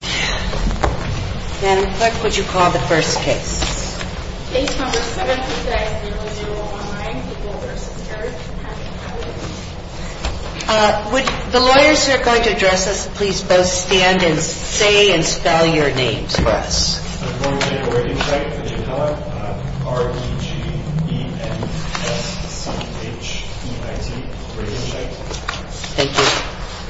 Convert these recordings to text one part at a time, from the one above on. v. Harris. Would the lawyers who are going to address us please both stand and say and spell your names for us? I'm going to make a written check for the impeller. R-e-g-e-n-s-h-e-i-t. Thank you.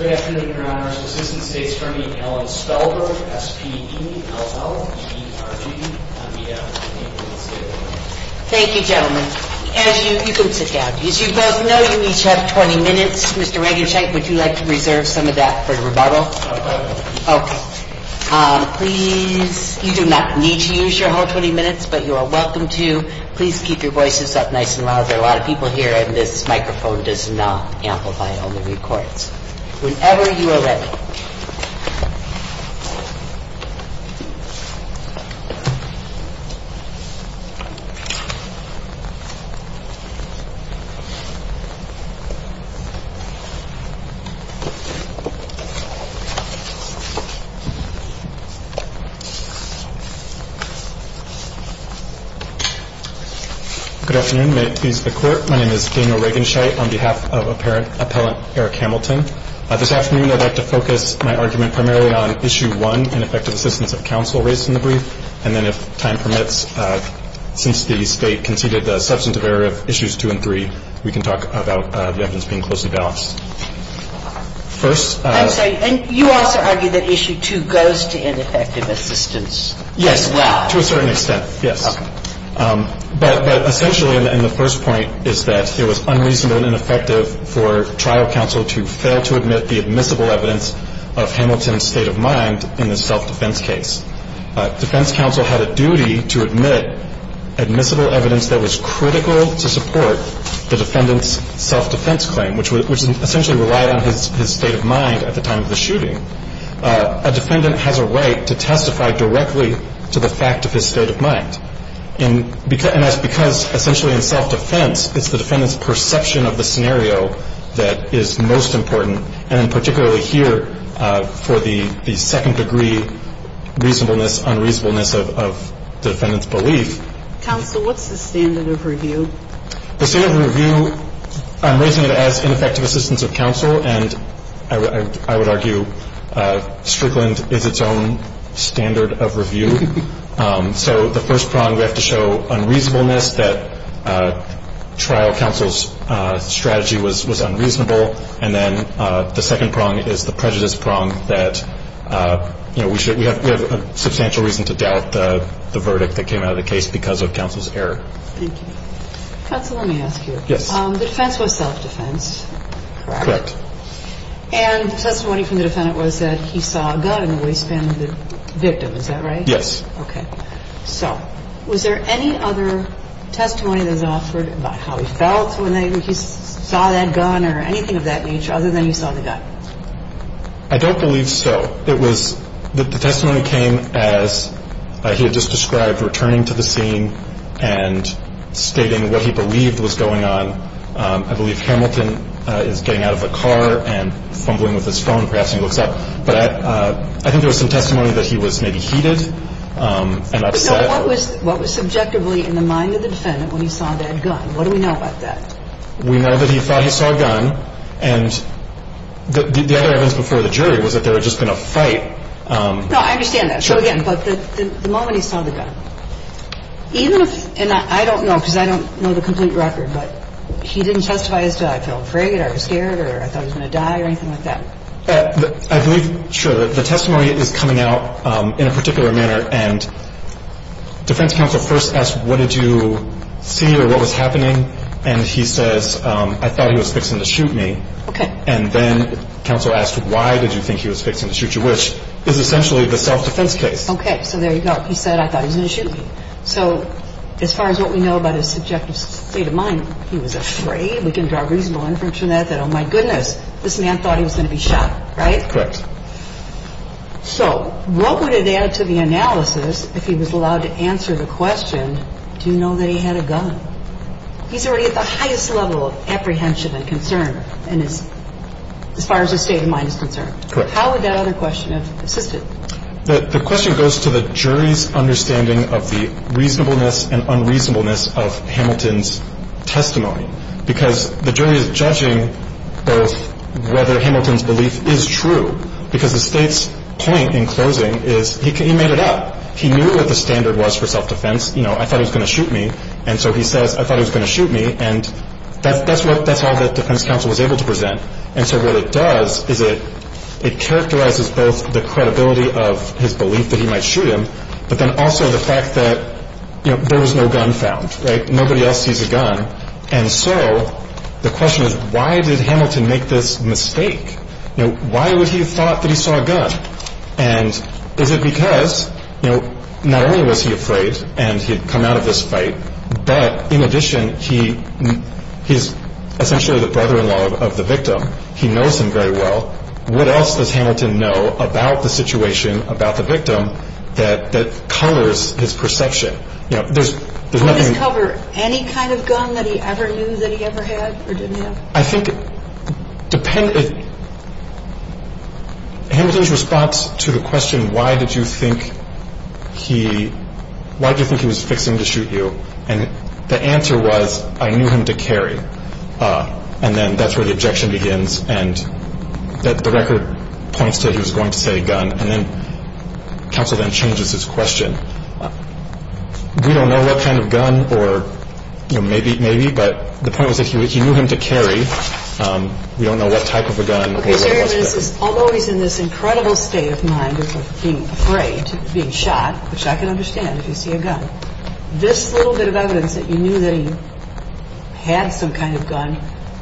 Good afternoon, Your Honors. Assistant State Attorney Ellen Spellberg, S-p-e-l-l-e-r-g-e-n-s-h-e-i-t. Thank you, gentlemen. As you can sit down. As you both know, you each have 20 minutes. Mr. Regenschenk, would you like to reserve some of that for rebuttal? No, no. Okay. Please, you do not need to use your whole 20 minutes, but you are welcome to. Please keep your voices up nice and loud. There are a lot of people here and this microphone does not amplify. Whenever you are ready. Good afternoon. My name is Daniel Regenschenk on behalf of Appellate Eric Hamilton. This afternoon, I'd like to focus my argument primarily on Issue 1, ineffective assistance of counsel raised in the brief. And then if time permits, since the State conceded the substantive error of Issues 2 and 3, we can talk about the evidence being closely balanced. I'm sorry. And you also argue that Issue 2 goes to ineffective assistance as well. Yes, to a certain extent, yes. But essentially in the first point is that it was unreasonable and ineffective for trial counsel to fail to admit the admissible evidence of Hamilton's state of mind in the self-defense case. Defense counsel had a duty to admit admissible evidence that was critical to support the defendant's self-defense claim, which essentially relied on his state of mind at the time of the shooting. A defendant has a right to testify directly to the fact of his state of mind. And that's because essentially in self-defense, it's the defendant's perception of the scenario that is most important, and particularly here for the second degree reasonableness, unreasonableness of the defendant's belief. Counsel, what's the standard of review? The standard of review, I'm raising it as ineffective assistance of counsel, and I would argue Strickland is its own standard of review. So the first prong we have to show unreasonableness, that trial counsel's strategy was unreasonable, and then the second prong is the prejudice prong that, you know, we have substantial reason to doubt the verdict that came out of the case because of counsel's error. Thank you. Counsel, let me ask you. Yes. The defense was self-defense, correct? Correct. And testimony from the defendant was that he saw a gun in the waistband of the victim. Is that right? Yes. Okay. So was there any other testimony that was offered about how he felt when he saw that gun or anything of that nature other than he saw the gun? I don't believe so. The testimony came as he had just described, returning to the scene and stating what he believed was going on. I believe Hamilton is getting out of the car and fumbling with his phone, perhaps he looks up. But I think there was some testimony that he was maybe heated and upset. So what was subjectively in the mind of the defendant when he saw that gun? What do we know about that? We know that he thought he saw a gun. And the other evidence before the jury was that they were just going to fight. No, I understand that. So, again, but the moment he saw the gun, even if – and I don't know because I don't know the complete record, but he didn't testify as to I felt afraid or I was scared or I thought I was going to die or anything like that. I believe, sure, the testimony is coming out in a particular manner. And defense counsel first asked what did you see or what was happening. And he says, I thought he was fixing to shoot me. Okay. And then counsel asked why did you think he was fixing to shoot you, which is essentially the self-defense case. Okay, so there you go. He said, I thought he was going to shoot me. So as far as what we know about his subjective state of mind, he was afraid. We can draw reasonable inference from that that, oh, my goodness, this man thought he was going to be shot, right? Correct. So what would it add to the analysis if he was allowed to answer the question, do you know that he had a gun? He's already at the highest level of apprehension and concern as far as his state of mind is concerned. Correct. How would that other question have assisted? The question goes to the jury's understanding of the reasonableness and unreasonableness of Hamilton's testimony. Because the jury is judging both whether Hamilton's belief is true, because the state's point in closing is he made it up. He knew what the standard was for self-defense. You know, I thought he was going to shoot me. And so he says, I thought he was going to shoot me. And that's all that defense counsel was able to present. And so what it does is it characterizes both the credibility of his belief that he might shoot him, but then also the fact that, you know, there was no gun found, right? And so the question is, why did Hamilton make this mistake? You know, why would he have thought that he saw a gun? And is it because, you know, not only was he afraid and he had come out of this fight, but in addition, he is essentially the brother-in-law of the victim. He knows him very well. What else does Hamilton know about the situation, about the victim, that colors his perception? You know, there's nothing. Did he discover any kind of gun that he ever knew that he ever had or didn't have? I think it depends. Hamilton's response to the question, why did you think he was fixing to shoot you? And the answer was, I knew him to carry. And then that's where the objection begins. And the record points to he was going to say gun. And then counsel then changes his question. We don't know what kind of gun or, you know, maybe, but the point was that he knew him to carry. We don't know what type of a gun. Although he's in this incredible state of mind of being afraid, being shot, which I can understand if you see a gun, this little bit of evidence that you knew that he had some kind of gun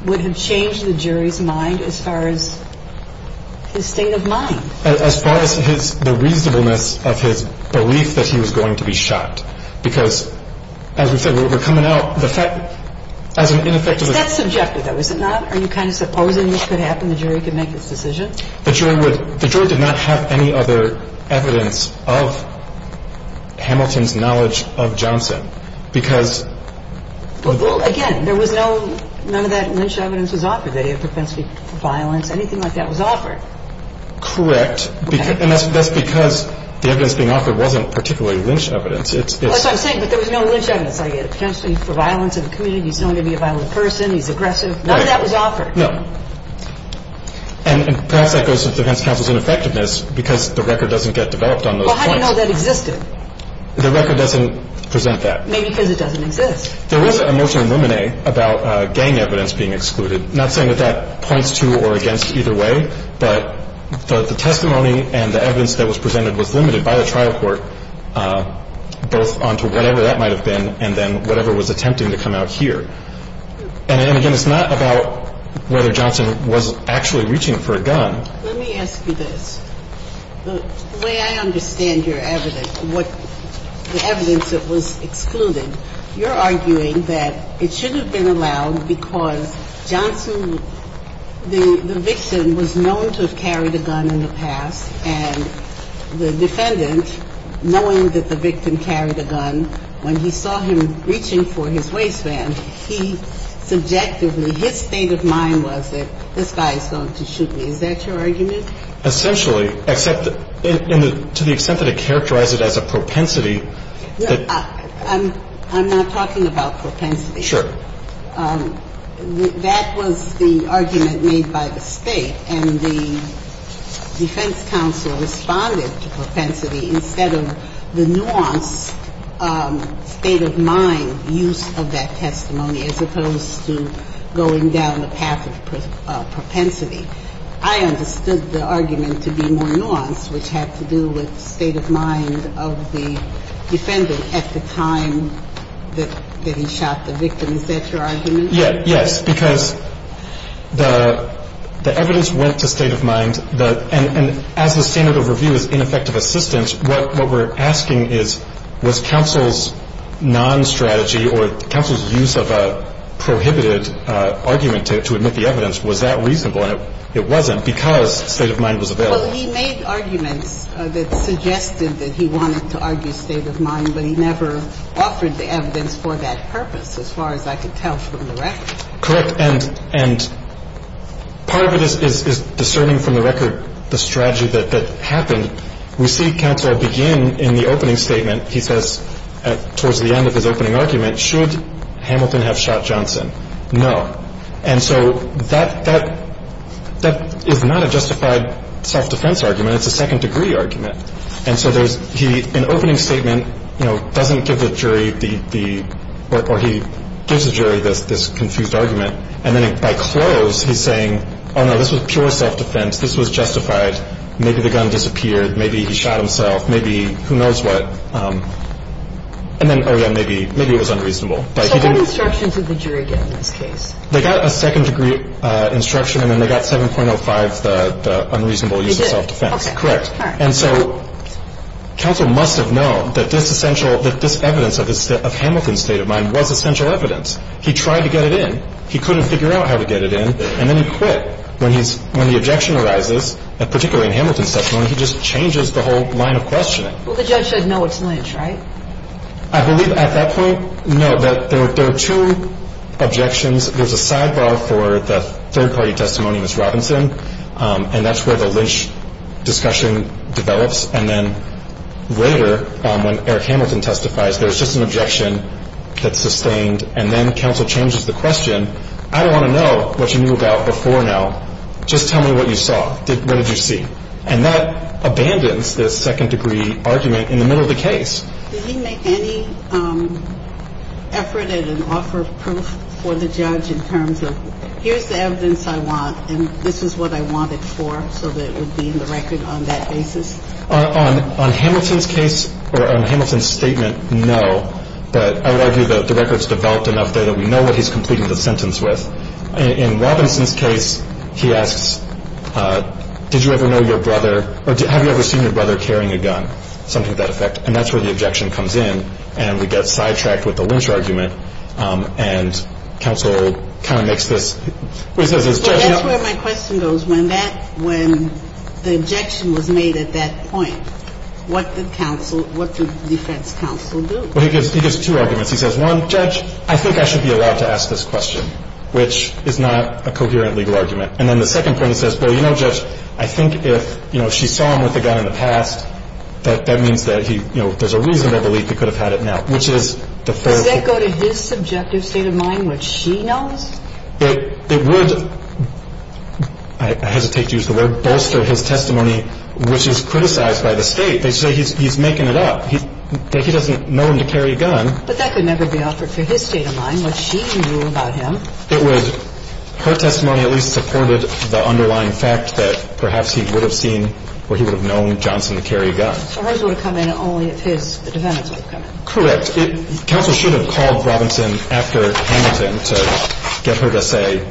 would have changed the jury's mind as far as his state of mind. As far as the reasonableness of his belief that he was going to be shot. Because, as we said, we're coming out, the fact, as an ineffectively That's subjective, though, is it not? Are you kind of supposing this could happen, the jury could make its decision? The jury would, the jury did not have any other evidence of Hamilton's knowledge of Johnson. Because Well, again, there was no, none of that Lynch evidence was offered. They didn't have propensity for violence, anything like that was offered. Correct. And that's because the evidence being offered wasn't particularly Lynch evidence. That's what I'm saying. But there was no Lynch evidence. I get it. Potentially for violence in the community. He's known to be a violent person. He's aggressive. None of that was offered. No. And perhaps that goes to the defense counsel's ineffectiveness because the record doesn't get developed on those points. Well, how do you know that existed? The record doesn't present that. Maybe because it doesn't exist. There is an emotional lemonade about gang evidence being excluded. Not saying that that points to or against either way, but the testimony and the evidence that was presented was limited by the trial court, both onto whatever that might have been and then whatever was attempting to come out here. And, again, it's not about whether Johnson was actually reaching for a gun. Let me ask you this. The way I understand your evidence, the evidence that was excluded, you're arguing that it should have been allowed because Johnson, the victim, was known to have carried a gun in the past, and the defendant, knowing that the victim carried a gun, when he saw him reaching for his waistband, he subjectively, his state of mind was that this guy is going to shoot me. Is that your argument? Essentially. Except to the extent that it characterized it as a propensity. I'm not talking about propensity. Sure. That was the argument made by the State, and the defense counsel responded to propensity instead of the nuanced state of mind use of that testimony as opposed to going down the path of propensity. I understood the argument to be more nuanced, which had to do with the state of mind of the defendant at the time that he shot the victim. Is that your argument? Yes. Because the evidence went to state of mind, and as the standard of review is ineffective assistance, what we're asking is, was counsel's non-strategy or counsel's use of a prohibited argument to admit the evidence, was that reasonable? And it wasn't because state of mind was available. Well, he made arguments that suggested that he wanted to argue state of mind, but he never offered the evidence for that purpose, as far as I could tell from the record. Correct. And part of it is discerning from the record the strategy that happened. We see counsel begin in the opening statement, he says, towards the end of his opening argument, should Hamilton have shot Johnson? No. And so that is not a justified self-defense argument. It's a second-degree argument. And so there's an opening statement, you know, doesn't give the jury the – or he gives the jury this confused argument, and then by close, he's saying, oh, no, this was pure self-defense. This was justified. Maybe the gun disappeared. Maybe he shot himself. Maybe who knows what. And then, oh, yeah, maybe it was unreasonable. So what instructions did the jury get in this case? They got a second-degree instruction, and then they got 7.05, the unreasonable use of self-defense. They did? Correct. All right. And so counsel must have known that this essential – that this evidence of Hamilton's state of mind was essential evidence. He tried to get it in. He couldn't figure out how to get it in, and then he quit when he's – when the objection arises, particularly in Hamilton's testimony. He just changes the whole line of questioning. Well, the judge said, no, it's Lynch, right? I believe at that point, no, there are two objections. There's a sidebar for the third-party testimony, Ms. Robinson, and that's where the Lynch discussion develops, and then later, when Eric Hamilton testifies, there's just an objection that's sustained, and then counsel changes the question. I don't want to know what you knew about before now. Just tell me what you saw. What did you see? And that abandons this second-degree argument in the middle of the case. Did he make any effort at an offer of proof for the judge in terms of, here's the evidence I want, and this is what I want it for, so that it would be in the record on that basis? On Hamilton's case – or on Hamilton's statement, no, but I would argue that the record's developed enough there that we know what he's completing the sentence with. In Robinson's case, he asks, did you ever know your brother – or have you ever seen your brother carrying a gun, something to that effect. And that's where the objection comes in, and we get sidetracked with the Lynch argument, and counsel kind of makes this – what he says is – Well, that's where my question goes. When that – when the objection was made at that point, what did counsel – what did defense counsel do? Well, he gives – he gives two arguments. He says, one, Judge, I think I should be allowed to ask this question, which is not a coherent legal argument. And then the second point, he says, well, you know, Judge, I think if, you know, she saw him with a gun in the past, that means that he – you know, there's a reasonable belief he could have had it now, which is the first – Does that go to his subjective state of mind, what she knows? It would – I hesitate to use the word – bolster his testimony, which is criticized by the State. They say he's making it up, that he doesn't know him to carry a gun. But that could never be offered for his state of mind, what she knew about him. It would – her testimony at least supported the underlying fact that perhaps he would have seen or he would have known Johnson to carry a gun. So hers would have come in only if his – the defendant's would have come in. Correct. Counsel should have called Robinson after Hamilton to get her to say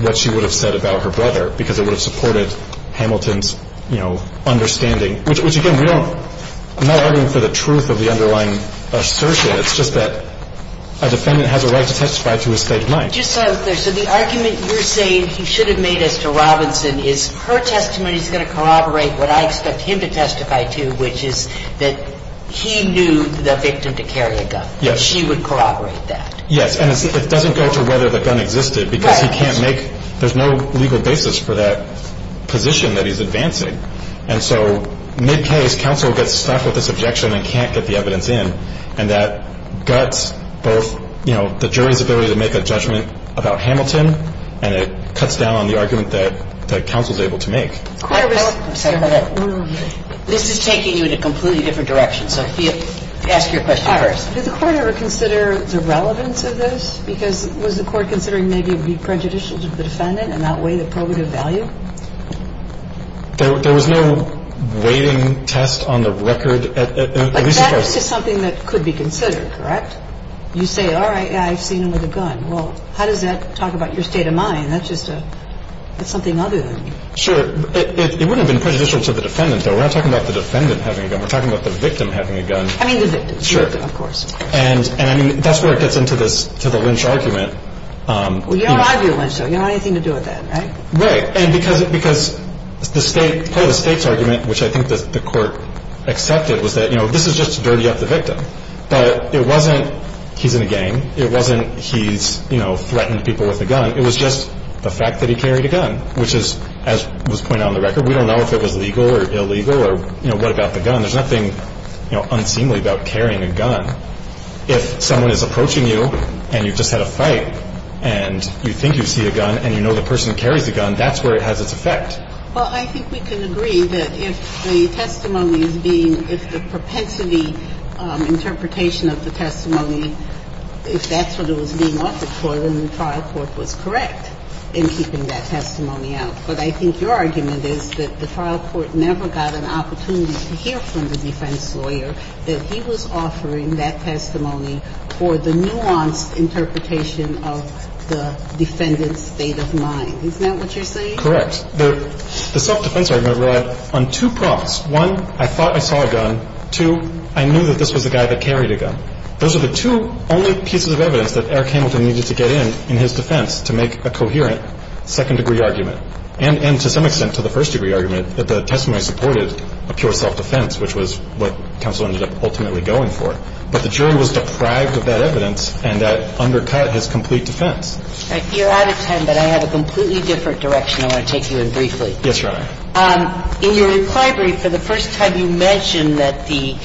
what she would have said about her brother because it would have supported Hamilton's, you know, understanding, which, again, we don't – I'm not arguing for the truth of the underlying assertion. It's just that a defendant has a right to testify to his state of mind. Just so I'm clear. So the argument you're saying he should have made as to Robinson is her testimony is going to corroborate what I expect him to testify to, which is that he knew the victim to carry a gun. Yes. She would corroborate that. Yes. And it doesn't go to whether the gun existed because he can't make – there's no legal basis for that position that he's advancing. And so mid-case, counsel gets stuck with this objection and can't get the evidence in, and that guts both, you know, the jury's ability to make a judgment about Hamilton and it cuts down on the argument that counsel's able to make. This is taking you in a completely different direction. So ask your question first. Did the court ever consider the relevance of this? Because was the court considering maybe it would be prejudicial to the defendant and not weigh the probative value? There was no weighting test on the record. But that is just something that could be considered, correct? You say, all right, I've seen him with a gun. Well, how does that talk about your state of mind? That's just a – that's something other than you. Sure. It wouldn't have been prejudicial to the defendant, though. We're not talking about the defendant having a gun. We're talking about the victim having a gun. I mean, the victim. Sure. The victim, of course. And I mean, that's where it gets into this – to the lynch argument. Well, you don't argue a lynch, though. You don't have anything to do with that, right? Right. And because the state – part of the state's argument, which I think the court accepted, was that, you know, this is just to dirty up the victim. But it wasn't he's in a gang. It wasn't he's, you know, threatened people with a gun. It was just the fact that he carried a gun, which is, as was pointed out on the record, we don't know if it was legal or illegal or, you know, what about the gun. There's nothing, you know, unseemly about carrying a gun. If someone is approaching you and you've just had a fight and you think you see a gun and you know the person carries a gun, that's where it has its effect. Well, I think we can agree that if the testimony is being – if the propensity of the defense lawyer is being offered for the interpretation of the testimony, if that's what it was being offered for, then the trial court was correct in keeping that testimony out. But I think your argument is that the trial court never got an opportunity to hear from the defense lawyer that he was offering that testimony for the nuanced interpretation of the defendant's state of mind. Isn't that what you're saying? Correct. The self-defense argument relied on two prompts. One, I thought I saw a gun. Two, I knew that this was a guy that carried a gun. Those are the two only pieces of evidence that Eric Hamilton needed to get in in his defense to make a coherent second-degree argument and to some extent to the first-degree argument that the testimony supported a pure self-defense, which was what counsel ended up ultimately going for. But the jury was deprived of that evidence and that undercut his complete defense. You're out of time, but I have a completely different direction I want to take you in briefly. Yes, Your Honor. In your reply brief, for the first time you mentioned that the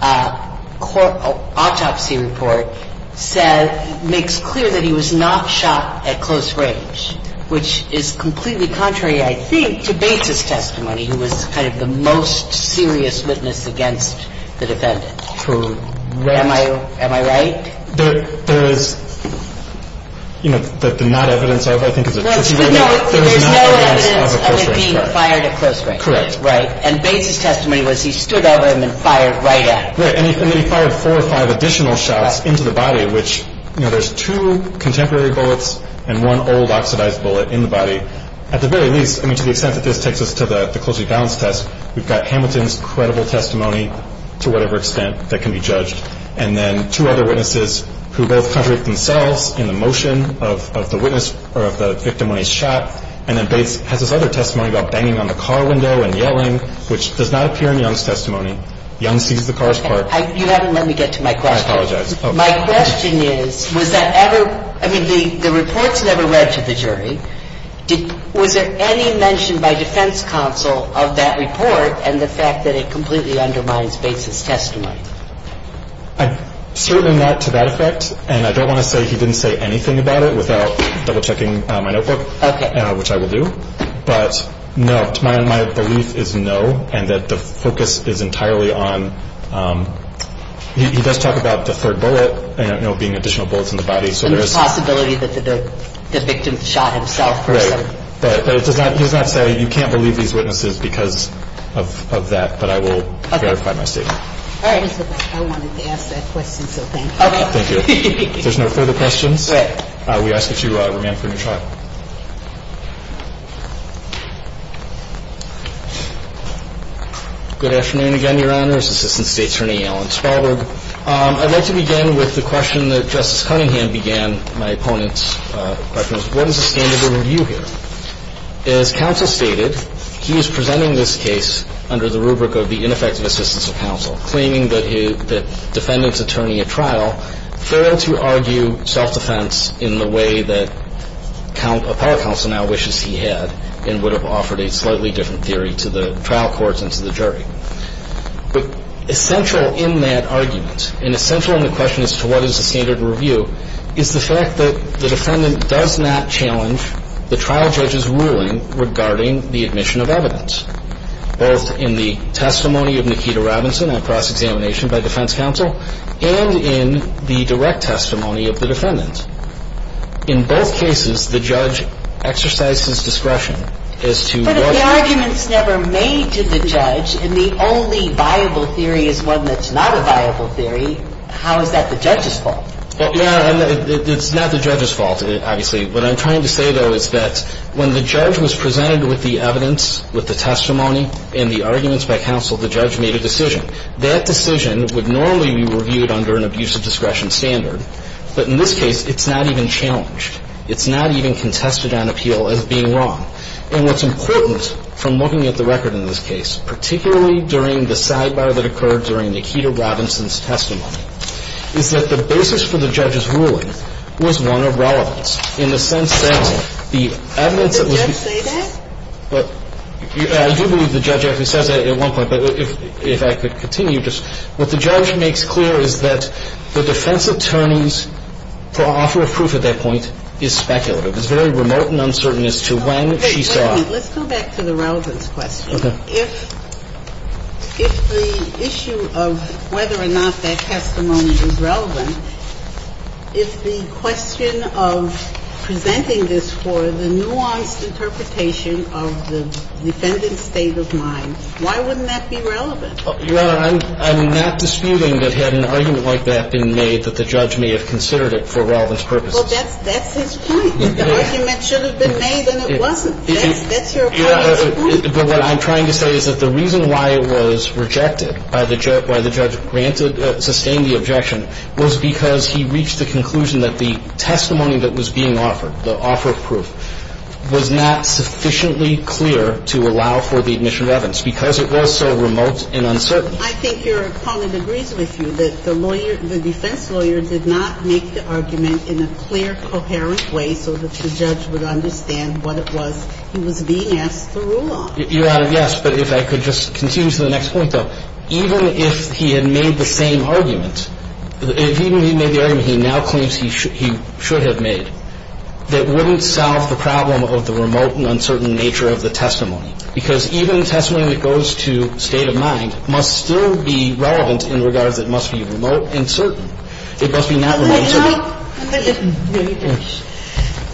autopsy report said – makes clear that he was not shot at close range, which is completely contrary, I think, to Bates' testimony, who was kind of the most serious witness against the defendant. Am I right? There is – you know, the not evidence of, I think, is a tricky one. No, there's no evidence of it being fired at close range. Correct. Right. And Bates' testimony was he stood over him and fired right at him. Right. And then he fired four or five additional shots into the body, which, you know, there's two contemporary bullets and one old oxidized bullet in the body. At the very least, I mean, to the extent that this takes us to the closely balanced test, we've got Hamilton's credible testimony, to whatever extent, that can be judged. And then two other witnesses who both contradict themselves in the motion of the witness or of the victim when he's shot. And then Bates has this other testimony about banging on the car window and yelling, which does not appear in Young's testimony. Young sees the car's part. You haven't let me get to my question. I apologize. My question is, was that ever – I mean, the report's never read to the jury. Was there any mention by defense counsel of that report and the fact that it completely undermines Bates' testimony? Certainly not to that effect. And I don't want to say he didn't say anything about it without double-checking my notebook. Okay. Which I will do. But no, my belief is no and that the focus is entirely on – he does talk about the third bullet, you know, being additional bullets in the body, so there is – And the possibility that the victim shot himself or something. Right. But he does not say you can't believe these witnesses because of that. But I will verify my statement. All right. I wanted to ask that question, so thank you. Okay. Thank you. If there's no further questions, we ask that you remain for a new trial. Good afternoon again, Your Honors. Assistant State Attorney Alan Spalberg. I'd like to begin with the question that Justice Cunningham began my opponent's questions. What is the standard of review here? As counsel stated, he is presenting this case under the rubric of the ineffective assistance of counsel, claiming that the defendant's attorney at trial failed to argue self-defense in the way that appellate counsel now wishes he had and would have offered a slightly different theory to the trial courts and to the jury. But essential in that argument and essential in the question as to what is the standard of review is the fact that the defendant does not challenge the trial judge's ruling regarding the admission of evidence, both in the testimony of Nikita Robinson at cross-examination by defense counsel and in the direct testimony of the defendant. In both cases, the judge exercises discretion as to what the argument is. But if the argument is never made to the judge and the only viable theory is one that's not the judge's fault, obviously, what I'm trying to say, though, is that when the judge was presented with the evidence, with the testimony and the arguments by counsel, the judge made a decision. That decision would normally be reviewed under an abuse of discretion standard. But in this case, it's not even challenged. It's not even contested on appeal as being wrong. And what's important from looking at the record in this case, particularly during the sidebar that occurred during Nikita Robinson's testimony, is that the basis for the judge's ruling was one of relevance in the sense that the evidence that was Can the judge say that? I do believe the judge actually says that at one point. But if I could continue, just what the judge makes clear is that the defense attorney's offer of proof at that point is speculative. It's very remote and uncertain as to when she saw Let's go back to the relevance question. Okay. If the issue of whether or not that testimony is relevant, if the question of presenting this for the nuanced interpretation of the defendant's state of mind, why wouldn't that be relevant? Your Honor, I'm not disputing that had an argument like that been made that the judge may have considered it for relevance purposes. Well, that's his point. The argument should have been made and it wasn't. That's your point. But what I'm trying to say is that the reason why it was rejected, why the judge sustained the objection, was because he reached the conclusion that the testimony that was being offered, the offer of proof, was not sufficiently clear to allow for the admission of evidence because it was so remote and uncertain. I think your colleague agrees with you that the defense lawyer did not make the argument in a clear, coherent way so that the judge would understand what it was he was being asked to rule on. Your Honor, yes. But if I could just continue to the next point, though. Even if he had made the same argument, even if he made the argument he now claims he should have made, that wouldn't solve the problem of the remote and uncertain nature of the testimony. Because even a testimony that goes to state of mind must still be relevant in regards It must be not remote and certain. So,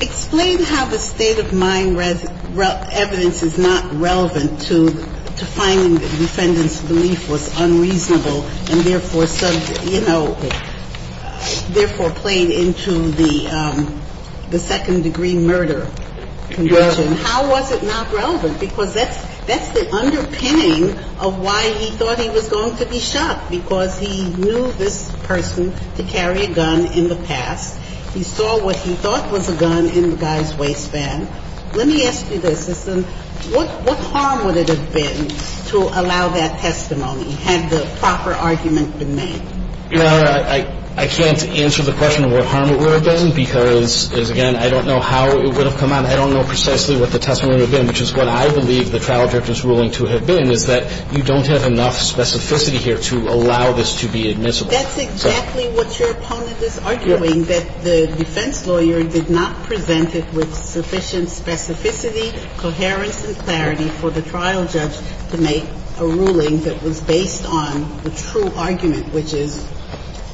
explain how the state of mind evidence is not relevant to finding the defendant's belief was unreasonable and, therefore, sub you know, therefore, played into the second degree murder conviction. How was it not relevant? Because that's the underpinning of why he thought he was going to be shot. Because he knew this person to carry a gun in the past. He saw what he thought was a gun in the guy's waistband. Let me ask you this. What harm would it have been to allow that testimony had the proper argument been made? Your Honor, I can't answer the question of what harm it would have been because, again, I don't know how it would have come out. I don't know precisely what the testimony would have been, which is what I believe the trial judge is ruling to have been, is that you don't have enough specificity here to allow this to be admissible. That's exactly what your opponent is arguing, that the defense lawyer did not present it with sufficient specificity, coherence, and clarity for the trial judge to make a ruling that was based on the true argument, which is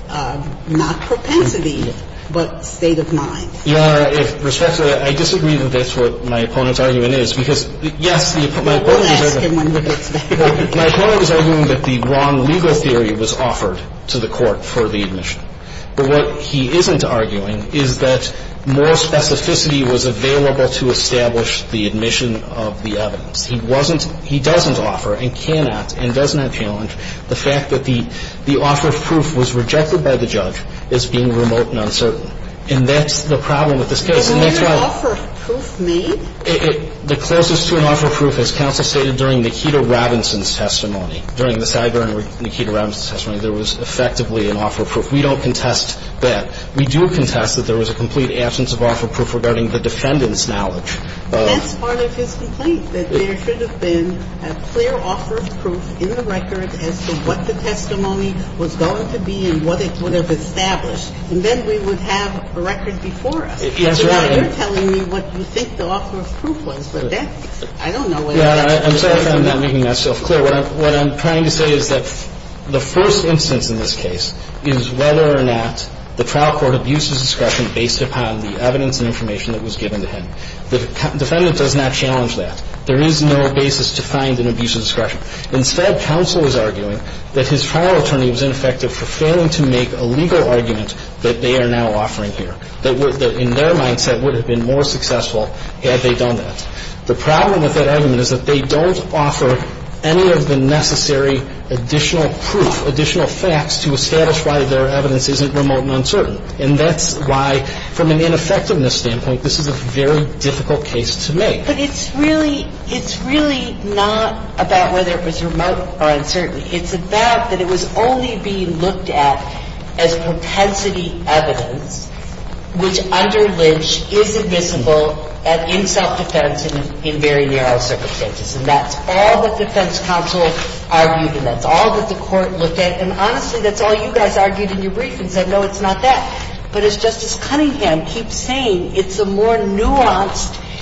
not propensity, but state of mind. Your Honor, with respect to that, I disagree that that's what my opponent's argument is because, yes, the opponent's argument is that the wrong legal argument was offered to the court for the admission. But what he isn't arguing is that more specificity was available to establish the admission of the evidence. He wasn't – he doesn't offer and cannot and does not challenge the fact that the offer of proof was rejected by the judge as being remote and uncertain. And that's the problem with this case, and that's why – But wasn't an offer of proof made? The closest to an offer of proof, as counsel stated during Nikita Robinson's testimony, there was effectively an offer of proof. We don't contest that. We do contest that there was a complete absence of offer of proof regarding the defendant's knowledge. Well, that's part of his complaint, that there should have been a clear offer of proof in the record as to what the testimony was going to be and what it would have established. And then we would have a record before us. Yes, Your Honor. So now you're telling me what you think the offer of proof was, but that – I don't know whether that's true or not. I'm sorry if I'm not making myself clear. What I'm trying to say is that the first instance in this case is whether or not the trial court abuses discretion based upon the evidence and information that was given to him. The defendant does not challenge that. There is no basis to find an abuse of discretion. Instead, counsel is arguing that his trial attorney was ineffective for failing to make a legal argument that they are now offering here, that in their mindset would have been more successful had they done that. The problem with that argument is that they don't offer any of the necessary additional proof, additional facts to establish why their evidence isn't remote and uncertain. And that's why, from an ineffectiveness standpoint, this is a very difficult case to make. But it's really – it's really not about whether it was remote or uncertain. It's about that it was only being looked at as propensity evidence, which under the circumstances that the defense counsel argued and that's all that the court looked at. And honestly, that's all you guys argued in your brief and said, no, it's not that. But as Justice Cunningham keeps saying, it's a more nuanced –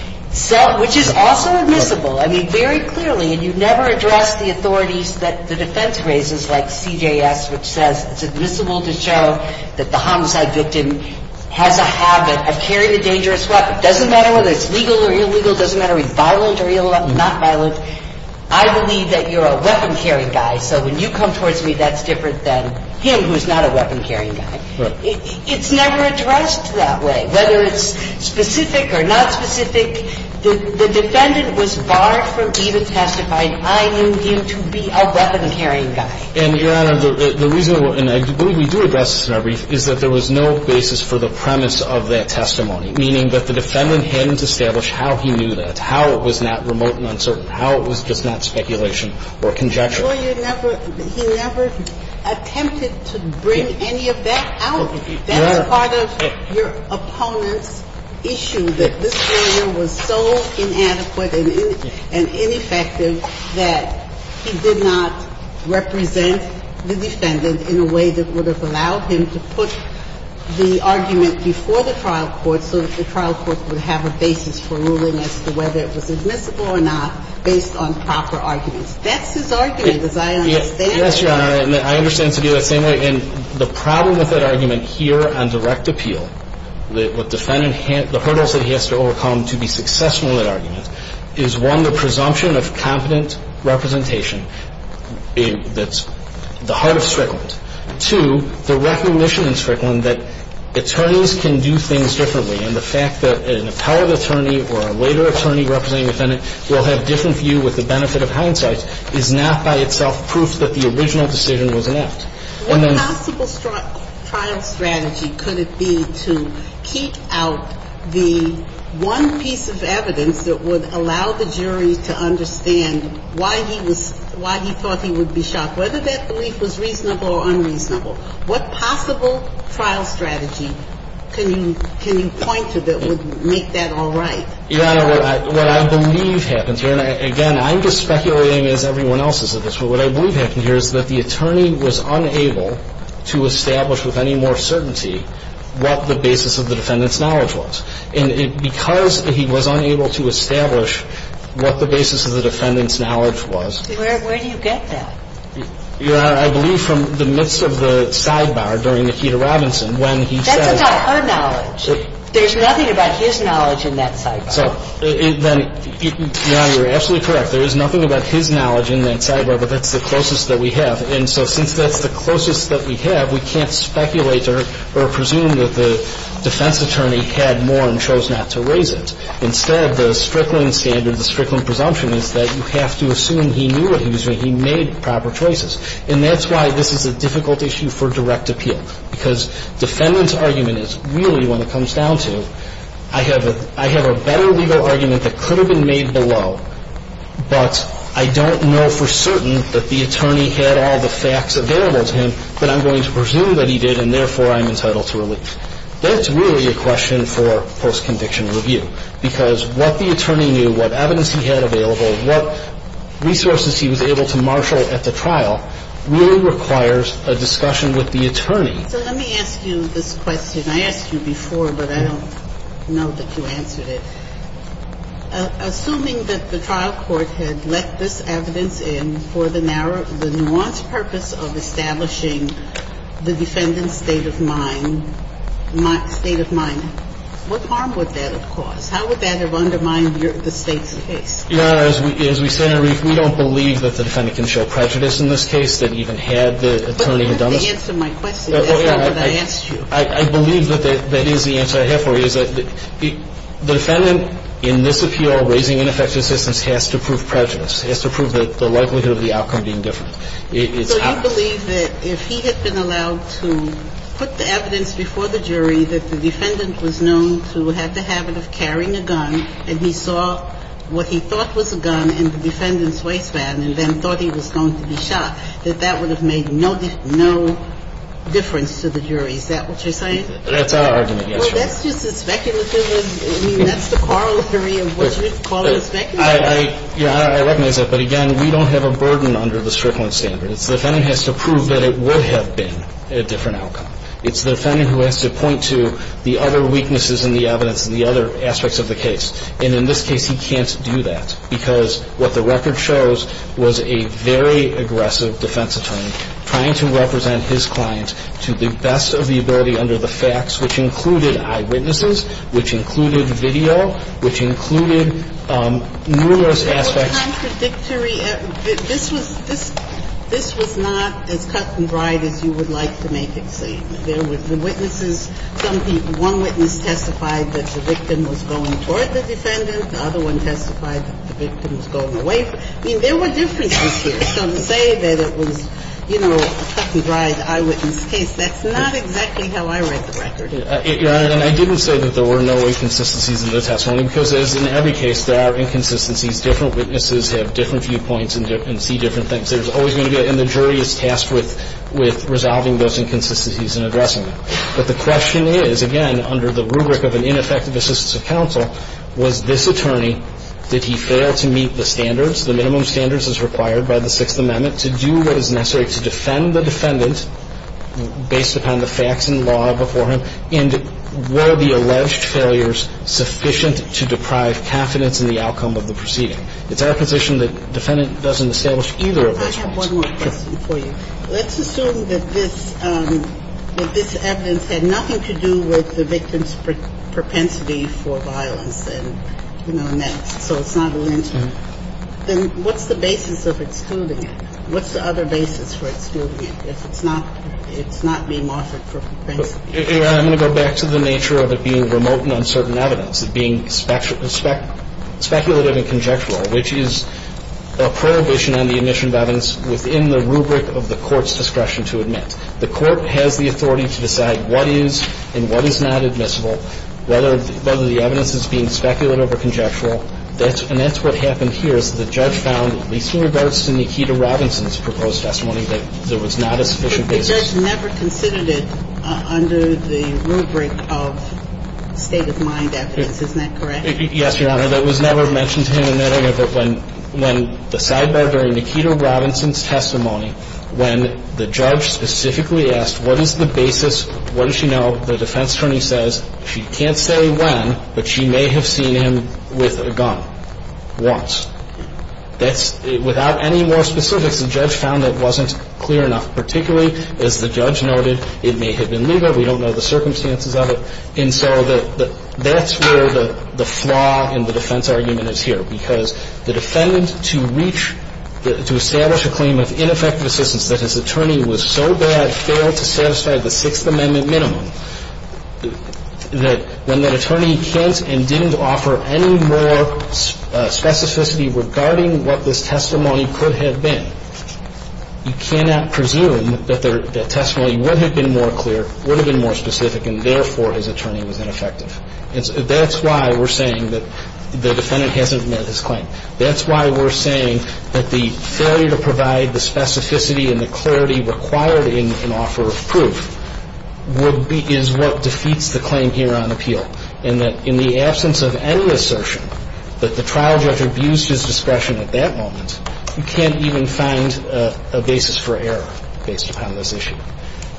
which is also admissible. I mean, very clearly, and you never address the authorities that the defense raises like CJS, which says it's admissible to show that the homicide victim has a habit of carrying a dangerous weapon. It doesn't matter whether it's legal or illegal. It doesn't matter whether it's violent or not violent. I believe that you're a weapon-carrying guy, so when you come towards me, that's different than him, who's not a weapon-carrying guy. It's never addressed that way, whether it's specific or not specific. The defendant was barred from even testifying. I need you to be a weapon-carrying guy. And, Your Honor, the reason – and I believe we do address this in our brief – is that there was no basis for the premise of that testimony, meaning that the defendant hadn't established how he knew that, how it was not remote and uncertain, how it was just not speculation or conjecture. Well, you never – he never attempted to bring any of that out. That's part of your opponent's issue, that this lawyer was so inadequate and ineffective that he did not represent the defendant in a way that would have allowed him to put the argument before the trial court so that the trial court would have a basis for ruling as to whether it was admissible or not based on proper arguments. That's his argument, as I understand it. Yes, Your Honor, and I understand it to be that same way. And the problem with that argument here on direct appeal, the defendant – the hurdles that he has to overcome to be successful in that argument is, one, the presumption of competent representation that's the heart of Strickland. Two, the recognition in Strickland that attorneys can do things differently, and the fact that an appellate attorney or a later attorney representing the defendant will have a different view with the benefit of hindsight is not by itself proof that the original decision was an act. What possible trial strategy could it be to keep out the one piece of evidence that would allow the jury to understand why he thought he would be shocked, whether that belief was reasonable or unreasonable? What possible trial strategy can you point to that would make that all right? Your Honor, what I believe happens here – and again, I'm just speculating What I believe happens here is that the attorney was unable to establish with any more certainty what the basis of the defendant's knowledge was. And because he was unable to establish what the basis of the defendant's knowledge was Where do you get that? Your Honor, I believe from the midst of the sidebar during Nikita Robinson when he said That's about her knowledge. There's nothing about his knowledge in that sidebar. So then, Your Honor, you're absolutely correct. There is nothing about his knowledge in that sidebar, but that's the closest that we have. And so since that's the closest that we have, we can't speculate or presume that the defense attorney had more and chose not to raise it. Instead, the Strickland standard, the Strickland presumption is that you have to assume he knew what he was doing. He made proper choices. And that's why this is a difficult issue for direct appeal, because defendant's I have a better legal argument that could have been made below, but I don't know for certain that the attorney had all the facts available to him that I'm going to presume that he did, and therefore I'm entitled to release. That's really a question for post-conviction review, because what the attorney knew, what evidence he had available, what resources he was able to marshal at the trial really requires a discussion with the attorney. So let me ask you this question. I asked you before, but I don't know that you answered it. Assuming that the trial court had let this evidence in for the nuanced purpose of establishing the defendant's state of mind, what harm would that have caused? How would that have undermined the State's case? As we say in our brief, we don't believe that the defendant can show prejudice in this case that even had the attorney have done this. And I don't know that you answered my question. That's not what I asked you. I believe that that is the answer I have for you, is that the defendant in this appeal raising ineffective assistance has to prove prejudice, has to prove that the likelihood of the outcome being different. So you believe that if he had been allowed to put the evidence before the jury that the defendant was known to have the habit of carrying a gun and he saw what he thought was a gun in the defendant's waistband and then thought he was going to be shot, that that would have made no difference to the jury. Is that what you're saying? That's our argument, yes, Your Honor. Well, that's just as speculative. I mean, that's the corollary of what you're calling speculative. I recognize that. But, again, we don't have a burden under the Strickland standard. It's the defendant who has to prove that it would have been a different outcome. It's the defendant who has to point to the other weaknesses in the evidence and the other aspects of the case. And in this case, he can't do that because what the record shows was a very aggressive defense attorney trying to represent his client to the best of the ability under the facts, which included eyewitnesses, which included video, which included numerous aspects. It was contradictory. This was not as cut and dried as you would like to make it seem. There were witnesses. Some people, one witness testified that the victim was going toward the defendant. The other one testified that the victim was going away. I mean, there were differences here. So to say that it was, you know, a cut and dried eyewitness case, that's not exactly how I read the record. Your Honor, and I didn't say that there were no inconsistencies in the testimony because, as in every case, there are inconsistencies. Different witnesses have different viewpoints and see different things. There's always going to be a – and the jury is tasked with resolving those inconsistencies and addressing them. But the question is, again, under the rubric of an ineffective assistance of counsel, was this attorney – did he fail to meet the standards? The minimum standards as required by the Sixth Amendment to do what is necessary to defend the defendant based upon the facts and law before him, and were the alleged failures sufficient to deprive confidence in the outcome of the proceeding? It's our position that defendant doesn't establish either of those points. I have one more question for you. Let's assume that this – that this evidence had nothing to do with the victim's propensity for violence and, you know, and that – so it's not a lynching. Then what's the basis of excluding it? What's the other basis for excluding it if it's not – it's not being monitored for propensity? I'm going to go back to the nature of it being remote and uncertain evidence, it being speculative and conjectural, which is a prohibition on the admission of evidence within the rubric of the court's discretion to admit. The court has the authority to decide what is and what is not admissible, whether the evidence is being speculative or conjectural. And that's what happened here is the judge found, at least in regards to Nikita Robinson's proposed testimony, that there was not a sufficient basis. But the judge never considered it under the rubric of state-of-mind evidence. Isn't that correct? Yes, Your Honor. That was never mentioned to him in that area. But when the sidebar during Nikita Robinson's testimony, when the judge specifically asked what is the basis, what does she know, the defense attorney says she can't say when, but she may have seen him with a gun once. That's – without any more specifics, the judge found that wasn't clear enough, particularly, as the judge noted, it may have been legal. We don't know the circumstances of it. And so that's where the flaw in the defense argument is here, because the defendant to reach – to establish a claim of ineffective assistance that his attorney was so bad, failed to satisfy the Sixth Amendment minimum, that when the attorney can't and didn't offer any more specificity regarding what this testimony could have been, you cannot presume that their testimony would have been more clear, would have been more specific, and therefore his attorney was ineffective. That's why we're saying that the defendant hasn't made his claim. That's why we're saying that the failure to provide the specificity and the clarity required in an offer of proof would be – is what defeats the claim here on appeal, and that in the absence of any assertion that the trial judge abused his discretion at that moment, you can't even find a basis for error based upon this issue.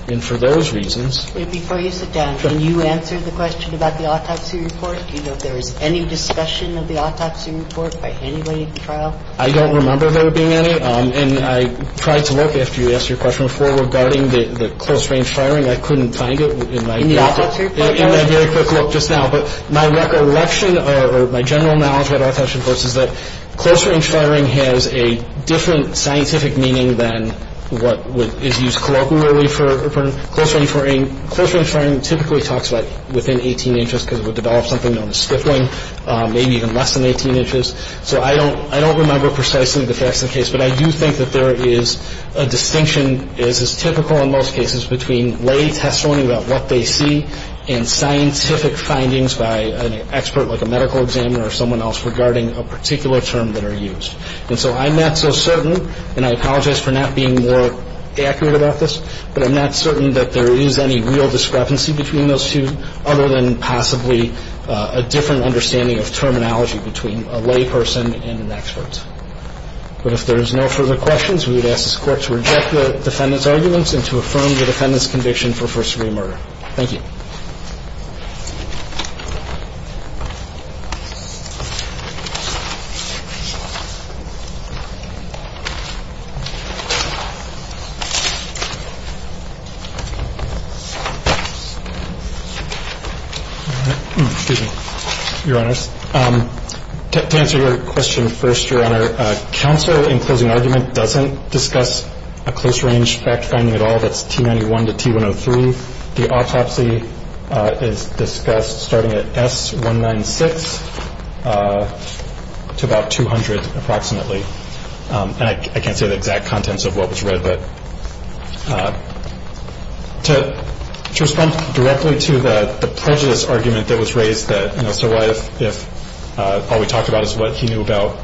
And for those reasons – Before you sit down, can you answer the question about the autopsy report? Do you know if there was any discussion of the autopsy report by anybody at the trial? I don't remember there being any. And I tried to look after you asked your question before regarding the close-range firing. I couldn't find it in my – In the autopsy report? In my very quick look just now, but my recollection or my general knowledge about autopsy reports is that close-range firing has a different scientific meaning than what is used colloquially for close-range firing. Close-range firing typically talks about within 18 inches because it would develop something known as split-wing, maybe even less than 18 inches. So I don't remember precisely the facts of the case, but I do think that there is a distinction as is typical in most cases between lay testimony about what they see and scientific findings by an expert like a medical examiner or someone else regarding a particular term that are used. And so I'm not so certain, and I apologize for not being more accurate about this, but I'm not certain that there is any real discrepancy between those two, other than possibly a different understanding of terminology between a lay person and an expert. But if there is no further questions, we would ask this Court to reject the defendant's arguments and to affirm the defendant's conviction for first-degree murder. Thank you. Excuse me, Your Honors. To answer your question first, Your Honor, counsel in closing argument doesn't discuss a close-range fact-finding at all. That's T91 to T103. The autopsy is discussed starting at S196 to about 200 approximately. And I can't say the exact contents of what was read, but to respond directly to the prejudice argument that was raised that, you know, so what if all we talked about is what he knew about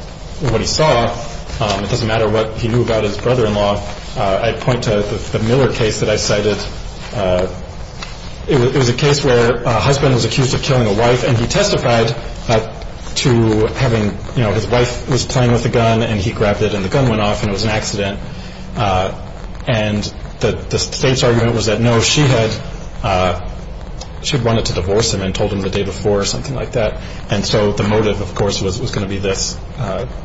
what he saw? It doesn't matter what he knew about his brother-in-law. I point to the Miller case that I cited. It was a case where a husband was accused of killing a wife, and he testified to having, you know, his wife was playing with a gun, and he grabbed it, and the gun went off, and it was an accident. And the state's argument was that, no, she had wanted to divorce him and told him the day before or something like that. And so the motive, of course, was going to be this,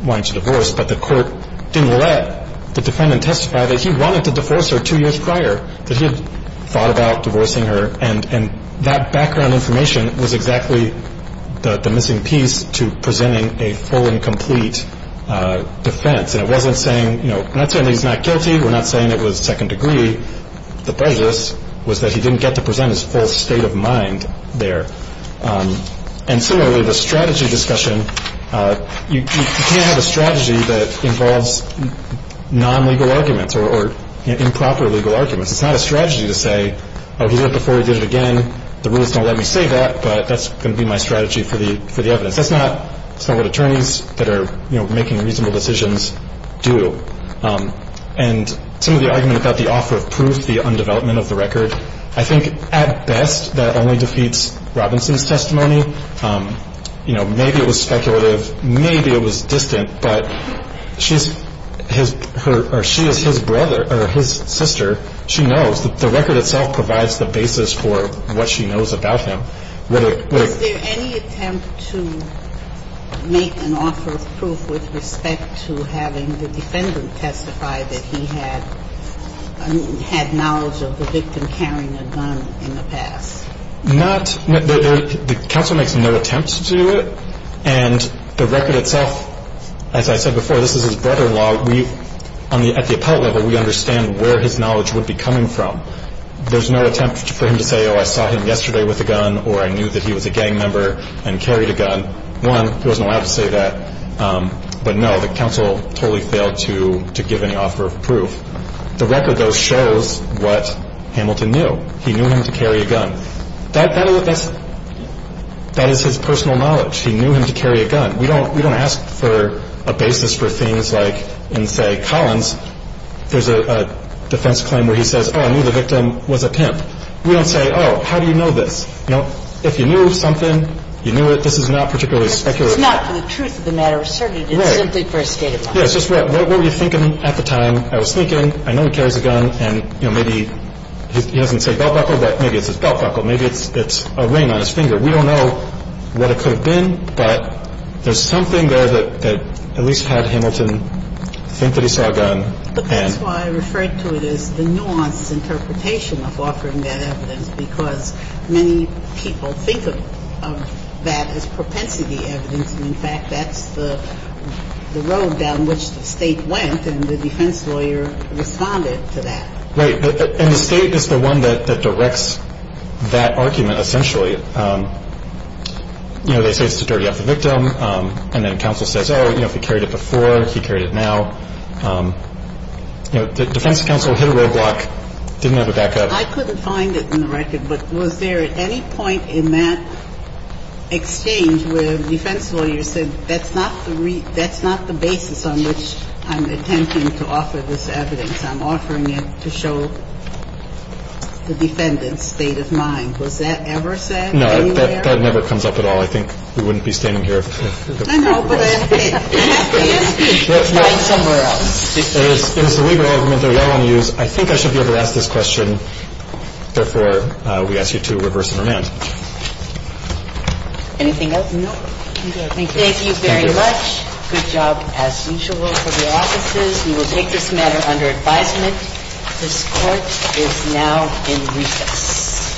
wanting to divorce. But the court didn't let the defendant testify that he wanted to divorce her two years prior, that he had thought about divorcing her. And that background information was exactly the missing piece to presenting a full and complete defense. And it wasn't saying, you know, we're not saying he's not guilty. We're not saying it was second degree. The prejudice was that he didn't get to present his full state of mind there. And similarly, the strategy discussion, you can't have a strategy that involves non-legal arguments or improper legal arguments. It's not a strategy to say, oh, he did it before, he did it again. The rules don't let me say that, but that's going to be my strategy for the evidence. That's not what attorneys that are, you know, making reasonable decisions do. And some of the argument about the offer of proof, the undevelopment of the record, I think at best that only defeats Robinson's testimony. You know, maybe it was speculative. Maybe it was distant. But she's his or she is his brother or his sister. She knows that the record itself provides the basis for what she knows about him. Was there any attempt to make an offer of proof with respect to having the defendant testify that he had had knowledge of the victim carrying a gun in the past? The counsel makes no attempt to do it. And the record itself, as I said before, this is his brother-in-law. At the appellate level, we understand where his knowledge would be coming from. There's no attempt for him to say, oh, I saw him yesterday with a gun or I knew that he was a gang member and carried a gun. One, he wasn't allowed to say that. But no, the counsel totally failed to give any offer of proof. The record, though, shows what Hamilton knew. How did he know he knew him to carry a gun? That's his personal knowledge. He knew him to carry a gun. We don't ask for a basis for things like in, say, Collins, there's a defense claim where he says, oh, I knew the victim was a pimp. We don't say, oh, how do you know this. You know, if you knew something, you knew it. This is not particularly speculative. It's not for the truth of the matter, certainly. Right. It's simply for a statement. Yes, just right. What were you thinking at the time? I was thinking, I know he carries a gun, and, you know, maybe he doesn't say belt buckle, but maybe it's his belt buckle. Maybe it's a ring on his finger. We don't know what it could have been, but there's something there that at least had Hamilton think that he saw a gun. But that's why I referred to it as the nuanced interpretation of offering that evidence, because many people think of that as propensity evidence, and in fact that's the road down which the State went, and the defense lawyer responded to that. Right. And the State is the one that directs that argument, essentially. You know, they say it's to dirty up the victim, and then counsel says, oh, you know, if he carried it before, he carried it now. You know, the defense counsel hit a roadblock, didn't have a backup. I couldn't find it in the record, but was there at any point in that exchange where the defense lawyer said that's not the basis on which I'm attempting to offer this evidence? I'm offering it to show the defendant's state of mind. Was that ever said anywhere? No. That never comes up at all. I think we wouldn't be standing here if it were. I know, but I have to ask you. Find somewhere else. It is the legal argument that we all want to use. I think I should be able to ask this question. Therefore, we ask you to reverse and remand. Anything else? No. Thank you. Thank you very much. Good job, as usual, for the offices. We will take this matter under advisement. This Court is now in recess.